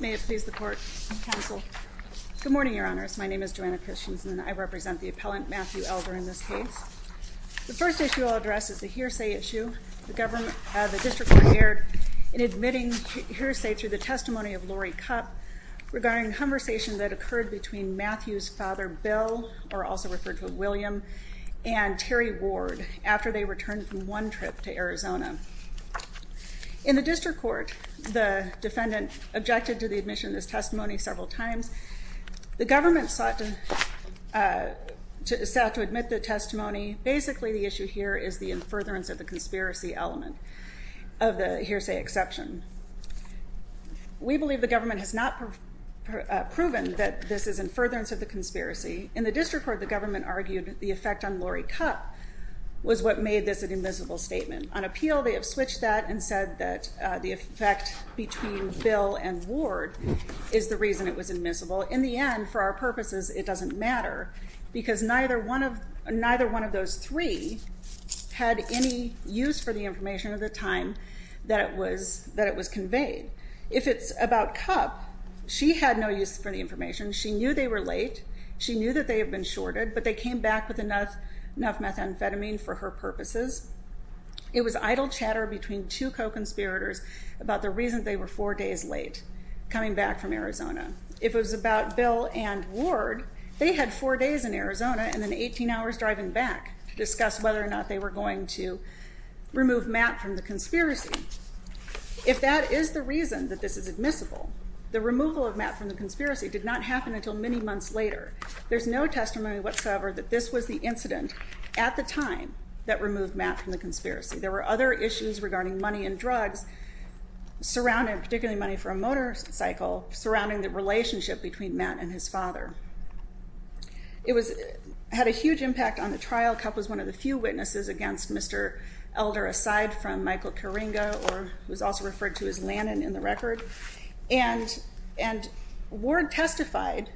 May it please the court and counsel good morning your honors my name is Joanna Christians and I represent the appellant Matthew Elder in this case the first issue I'll address is the hearsay issue the district court erred in admitting hearsay through the testimony of Lori Cupp regarding the conversation that occurred between Matthew's father Bill or also referred to as William and Terry Ward after they returned from one trip to Arizona. In the district court the defendant objected to the admission of this testimony several times the government sought to admit the testimony basically the issue here is the in furtherance of the conspiracy element of the hearsay exception. We believe the government has not proven that this is in furtherance of the conspiracy in the district court the government argued the effect on Lori Cupp was what made this an immiscible statement. On appeal they have switched that and said that the effect between Bill and Ward is the reason it was immiscible in the end for our purposes it doesn't matter because neither one of those three had any use for the information at the time that it was that it was conveyed if it's about Cupp she had no use for the information she knew they were late she knew that they have been shorted but they came back with enough enough methamphetamine for her purposes. It was idle chatter between two co-conspirators about the reason they were four days late coming back from Arizona. If it was about Bill and Ward they had four days in Arizona and then 18 hours driving back to discuss whether or not they were going to remove Matt from the conspiracy. If that is the reason that this is admissible the removal of Matt from the conspiracy did not happen until many months later there's no testimony whatsoever that this was the incident at the time that removed Matt from the conspiracy. There were other issues regarding money and drugs surrounding particularly money for a motorcycle surrounding the relationship between Matt and his father. It had a huge impact on the trial. Cupp was one of the few witnesses against Mr. Elder aside from Michael Coringa or was also referred to as Lannon in the record and Ward testified,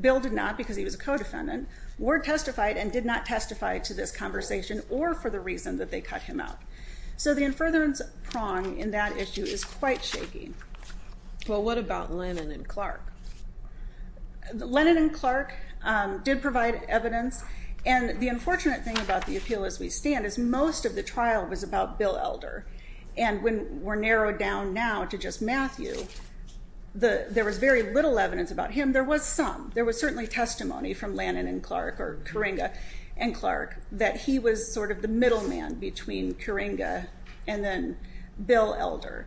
Bill did not because he was a co-defendant, Ward testified and did not testify to this conversation or for the reason that they cut him out. So the inference prong in that issue is quite shaky. Well what about Lannon and Clark? Lannon and Clark did provide evidence and the unfortunate thing about the appeal as we stand is most of the trial was about Bill Elder and when we're narrowed down now to just Matthew there was very little evidence about him. And there was some, there was certainly testimony from Lannon and Clark or Coringa and Clark that he was sort of the middleman between Coringa and then Bill Elder.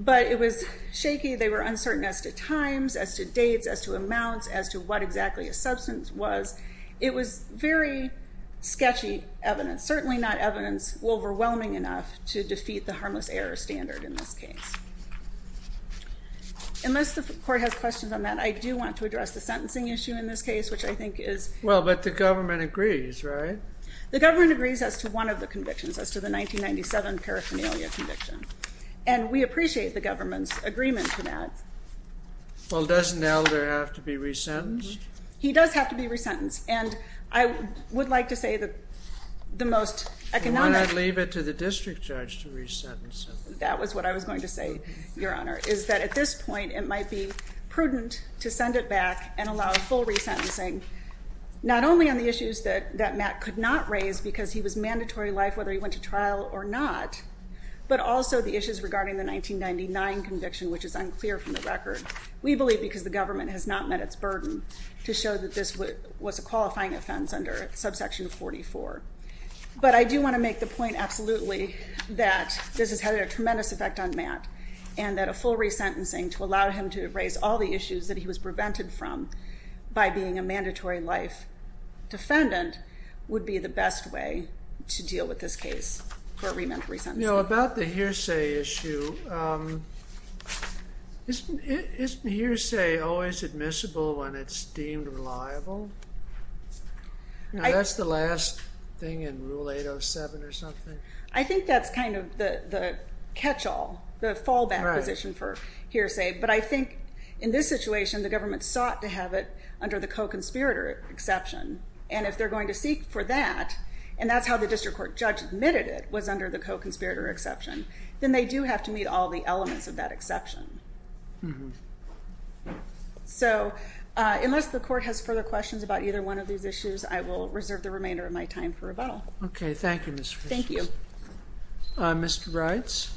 But it was shaky, they were uncertain as to times, as to dates, as to amounts, as to what exactly a substance was. It was very sketchy evidence, certainly not evidence overwhelming enough to defeat the harmless error standard in this case. Unless the court has questions on that, I do want to address the sentencing issue in this case which I think is... Well but the government agrees, right? The government agrees as to one of the convictions as to the 1997 paraphernalia conviction and we appreciate the government's agreement to that. Well doesn't Elder have to be resentenced? He does have to be resentenced and I would like to say that the most economic... Why not leave it to the district judge to resentence him? That was what I was going to say, Your Honor, is that at this point it might be prudent to send it back and allow full resentencing, not only on the issues that Matt could not raise because he was mandatory life whether he went to trial or not, but also the issues regarding the 1999 conviction which is unclear from the record. We believe because the government has not met its burden to show that this was a qualifying offense under subsection 44. But I do want to make the point absolutely that this has had a tremendous effect on Matt and that a full resentencing to allow him to raise all the issues that he was prevented from by being a mandatory life defendant would be the best way to deal with this case for a remand for resentencing. About the hearsay issue, isn't hearsay always admissible when it's deemed reliable? That's the last thing in Rule 807 or something. I think that's kind of the catch-all, the fallback position for hearsay. But I think in this situation, the government sought to have it under the co-conspirator exception. And if they're going to seek for that, and that's how the district court judge admitted it was under the co-conspirator exception, then they do have to meet all the elements of that exception. So unless the court has further questions about either one of these issues, I will reserve the remainder of my time for rebuttal. Okay, thank you, Ms. Fisher. Thank you. Mr. Rides?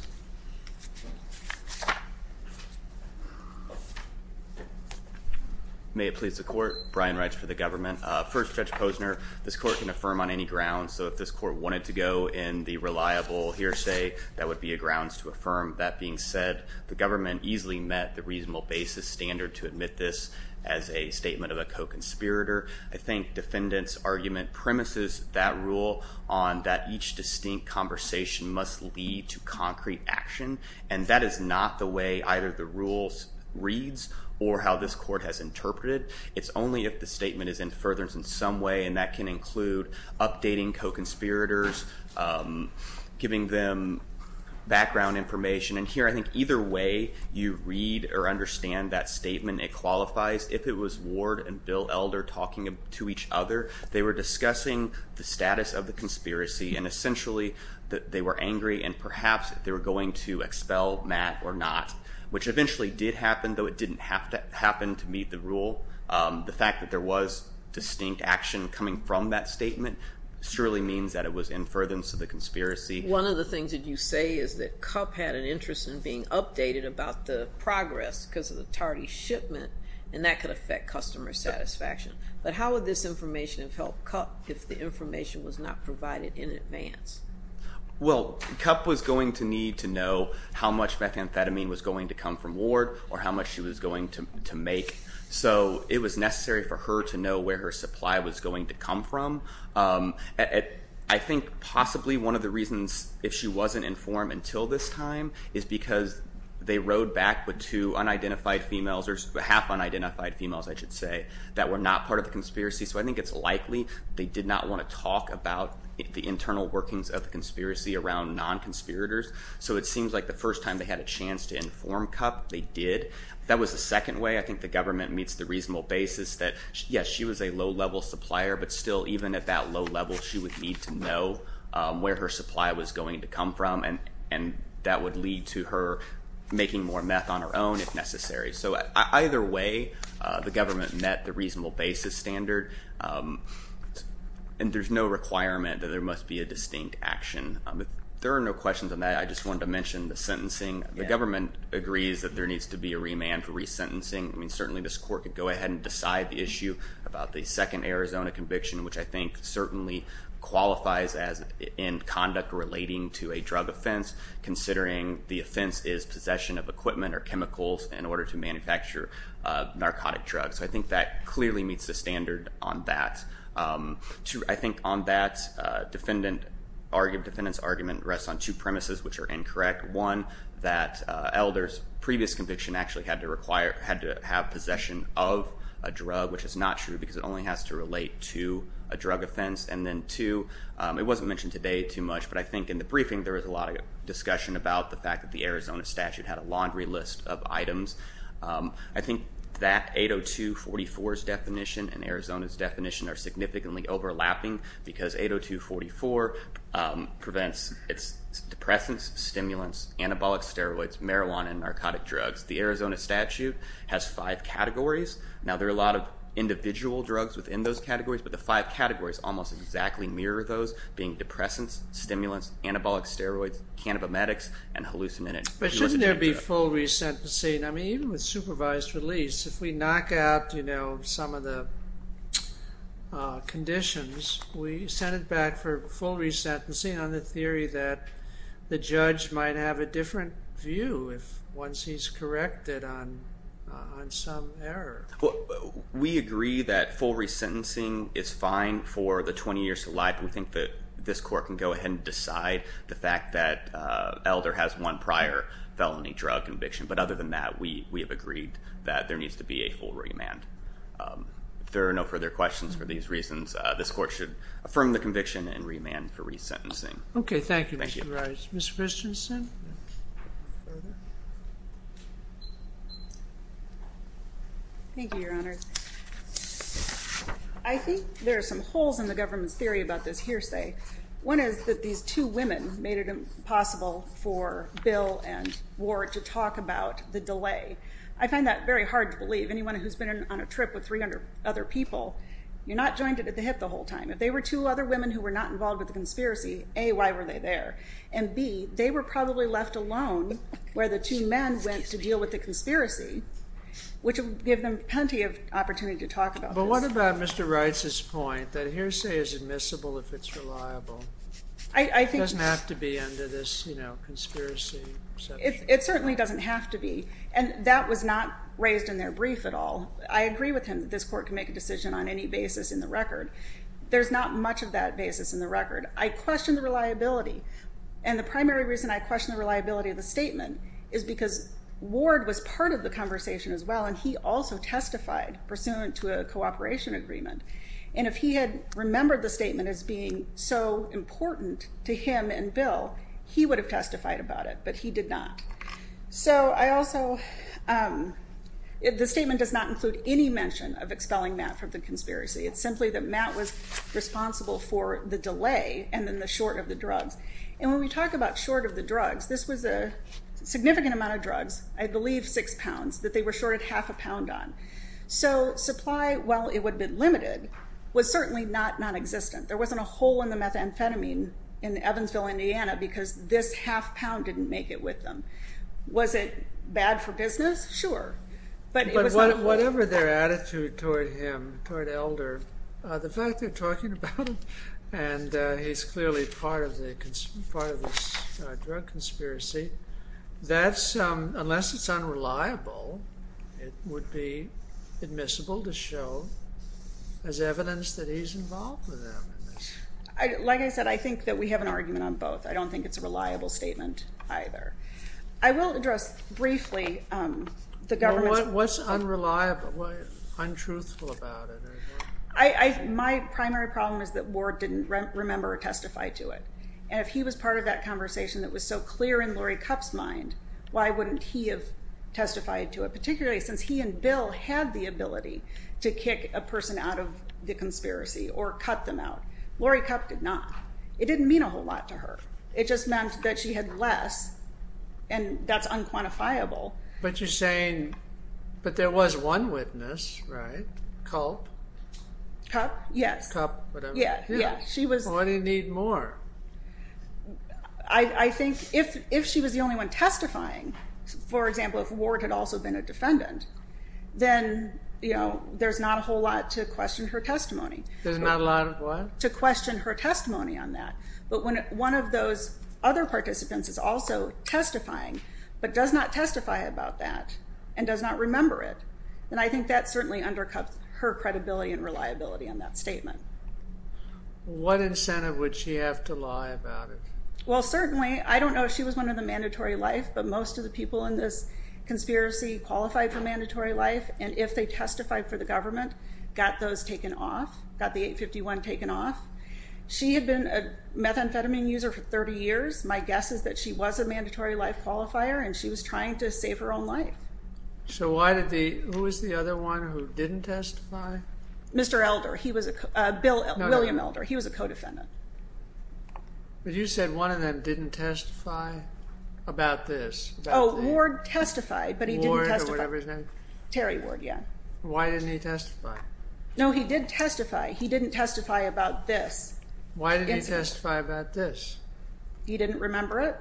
May it please the court, Brian Rides for the government. First, Judge Posner, this court can affirm on any grounds. So if this court wanted to go in the reliable hearsay, that would be a grounds to affirm. That being said, the government easily met the reasonable basis standard to admit this as a statement of a co-conspirator. I think defendant's argument premises that rule on that each distinct conversation must lead to concrete action. And that is not the way either the rules reads or how this court has interpreted. It's only if the statement is in furtherance in some way, and that can include updating co-conspirators, giving them background information. And here, I think either way you read or understand that statement, it qualifies. If it was Ward and Bill Elder talking to each other, they were discussing the status of the conspiracy. And essentially, they were angry, and perhaps they were going to expel Matt or not, which eventually did happen, though it didn't happen to meet the rule. The fact that there was distinct action coming from that statement surely means that it was in furtherance of the conspiracy. One of the things that you say is that Cup had an interest in being updated about the progress because of the tardy shipment, and that could affect customer satisfaction. But how would this information have helped Cup if the information was not provided in advance? Well, Cup was going to need to know how much methamphetamine was going to come from Ward or how much she was going to make. So it was necessary for her to know where her supply was going to come from. I think possibly one of the reasons if she wasn't informed until this time is because they rode back with two unidentified females, or half unidentified females, I should say, that were not part of the conspiracy. So I think it's likely they did not want to talk about the internal workings of the conspiracy around non-conspirators. So it seems like the first time they had a chance to inform Cup, they did. That was the second way. I think the government meets the reasonable basis that, yes, she was a low-level supplier, but still, even at that low level, she would need to know where her supply was going to come from, and that would lead to her making more meth on her own if necessary. So either way, the government met the reasonable basis standard, and there's no requirement that there must be a distinct action. There are no questions on that. I just wanted to mention the sentencing. The government agrees that there needs to be a remand for resentencing. I mean, certainly this court could go ahead and decide the issue about the second Arizona conviction, which I think certainly qualifies as in conduct relating to a drug offense, considering the offense is possession of equipment or chemicals in order to manufacture narcotic drugs. So I think that clearly meets the standard on that. I think on that, defendant's argument rests on two premises, which are incorrect. One, that elders' previous conviction actually had to have possession of a drug, which is not true because it only has to relate to a drug offense. And then two, it wasn't mentioned today too much, but I think in the briefing there was a lot of discussion about the fact that the Arizona statute had a laundry list of items. I think that 802.44's definition and Arizona's definition are significantly overlapping because 802.44 prevents its depressants, stimulants, anabolic steroids, marijuana, and narcotic drugs. The Arizona statute has five categories. Now, there are a lot of individual drugs within those categories, but the five categories almost exactly mirror those, being depressants, stimulants, anabolic steroids, cannabimetics, and hallucinogenic. But shouldn't there be full resentencing? I mean, even with supervised release, if we knock out some of the conditions, we send it back for full resentencing on the theory that the judge might have a different view once he's corrected on some error. Well, we agree that full resentencing is fine for the 20 years to life. We think that this court can go ahead and decide the fact that Elder has one prior felony drug conviction. But other than that, we have agreed that there needs to be a full remand. If there are no further questions for these reasons, this court should affirm the conviction and remand for resentencing. Okay, thank you, Mr. Rice. Thank you. Any other questions, then? Thank you, Your Honor. I think there are some holes in the government's theory about this hearsay. One is that these two women made it impossible for Bill and Ward to talk about the delay. I find that very hard to believe. Anyone who's been on a trip with 300 other people, you're not joined at the hip the whole time. If they were two other women who were not involved with the conspiracy, A, why were they there? And, B, they were probably left alone where the two men went to deal with the conspiracy, which would give them plenty of opportunity to talk about this. But what about Mr. Rice's point that hearsay is admissible if it's reliable? It doesn't have to be under this conspiracy. It certainly doesn't have to be, and that was not raised in their brief at all. I agree with him that this court can make a decision on any basis in the record. There's not much of that basis in the record. I question the reliability, and the primary reason I question the reliability of the statement is because Ward was part of the conversation as well, and he also testified pursuant to a cooperation agreement. And if he had remembered the statement as being so important to him and Bill, he would have testified about it, but he did not. So I also, the statement does not include any mention of expelling Matt from the conspiracy. It's simply that Matt was responsible for the delay and then the short of the drugs. And when we talk about short of the drugs, this was a significant amount of drugs, I believe six pounds, that they were shorted half a pound on. So supply, while it would have been limited, was certainly not nonexistent. There wasn't a hole in the methamphetamine in Evansville, Indiana, because this half pound didn't make it with them. Was it bad for business? Sure. But whatever their attitude toward him, toward Elder, the fact they're talking about him and he's clearly part of this drug conspiracy, that's, unless it's unreliable, it would be admissible to show as evidence that he's involved with them. Like I said, I think that we have an argument on both. I don't think it's a reliable statement either. I will address briefly the government's... What's unreliable? What's untruthful about it? My primary problem is that Ward didn't remember or testify to it. And if he was part of that conversation that was so clear in Laurie Kupp's mind, why wouldn't he have testified to it, particularly since he and Bill had the ability to kick a person out of the conspiracy or cut them out. Laurie Kupp did not. It didn't mean a whole lot to her. It just meant that she had less, and that's unquantifiable. But you're saying, but there was one witness, right? Kupp? Kupp? Yes. Kupp, whatever. Yeah. Why do you need more? I think if she was the only one testifying, for example, if Ward had also been a defendant, then there's not a whole lot to question her testimony. There's not a lot of what? To question her testimony on that. But when one of those other participants is also testifying but does not testify about that and does not remember it, then I think that certainly undercuts her credibility and reliability on that statement. What incentive would she have to lie about it? Well, certainly, I don't know if she was one of the mandatory life, but most of the people in this conspiracy qualified for mandatory life, and if they testified for the government, got those taken off, got the 851 taken off. She had been a methamphetamine user for 30 years. My guess is that she was a mandatory life qualifier and she was trying to save her own life. So who was the other one who didn't testify? Mr. Elder. William Elder. He was a co-defendant. But you said one of them didn't testify about this. Oh, Ward testified, but he didn't testify. Ward or whatever his name? Terry Ward, yeah. Why didn't he testify? No, he did testify. He didn't testify about this. Why didn't he testify about this? He didn't remember it.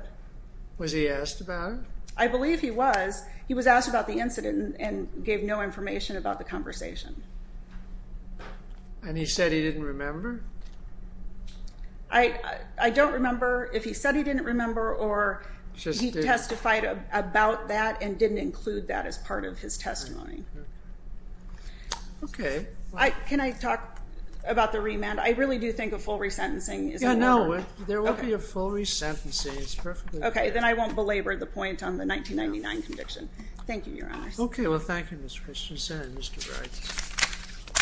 Was he asked about it? I believe he was. He was asked about the incident and gave no information about the conversation. And he said he didn't remember? I don't remember if he said he didn't remember or he testified about that and didn't include that as part of his testimony. Okay. Can I talk about the remand? I really do think of full resentencing. Yeah, no, there will be a full resentencing. Okay, then I won't belabor the point on the 1999 conviction. Thank you, Your Honor. Okay, well, thank you, Ms. Christensen and Mr. Wright.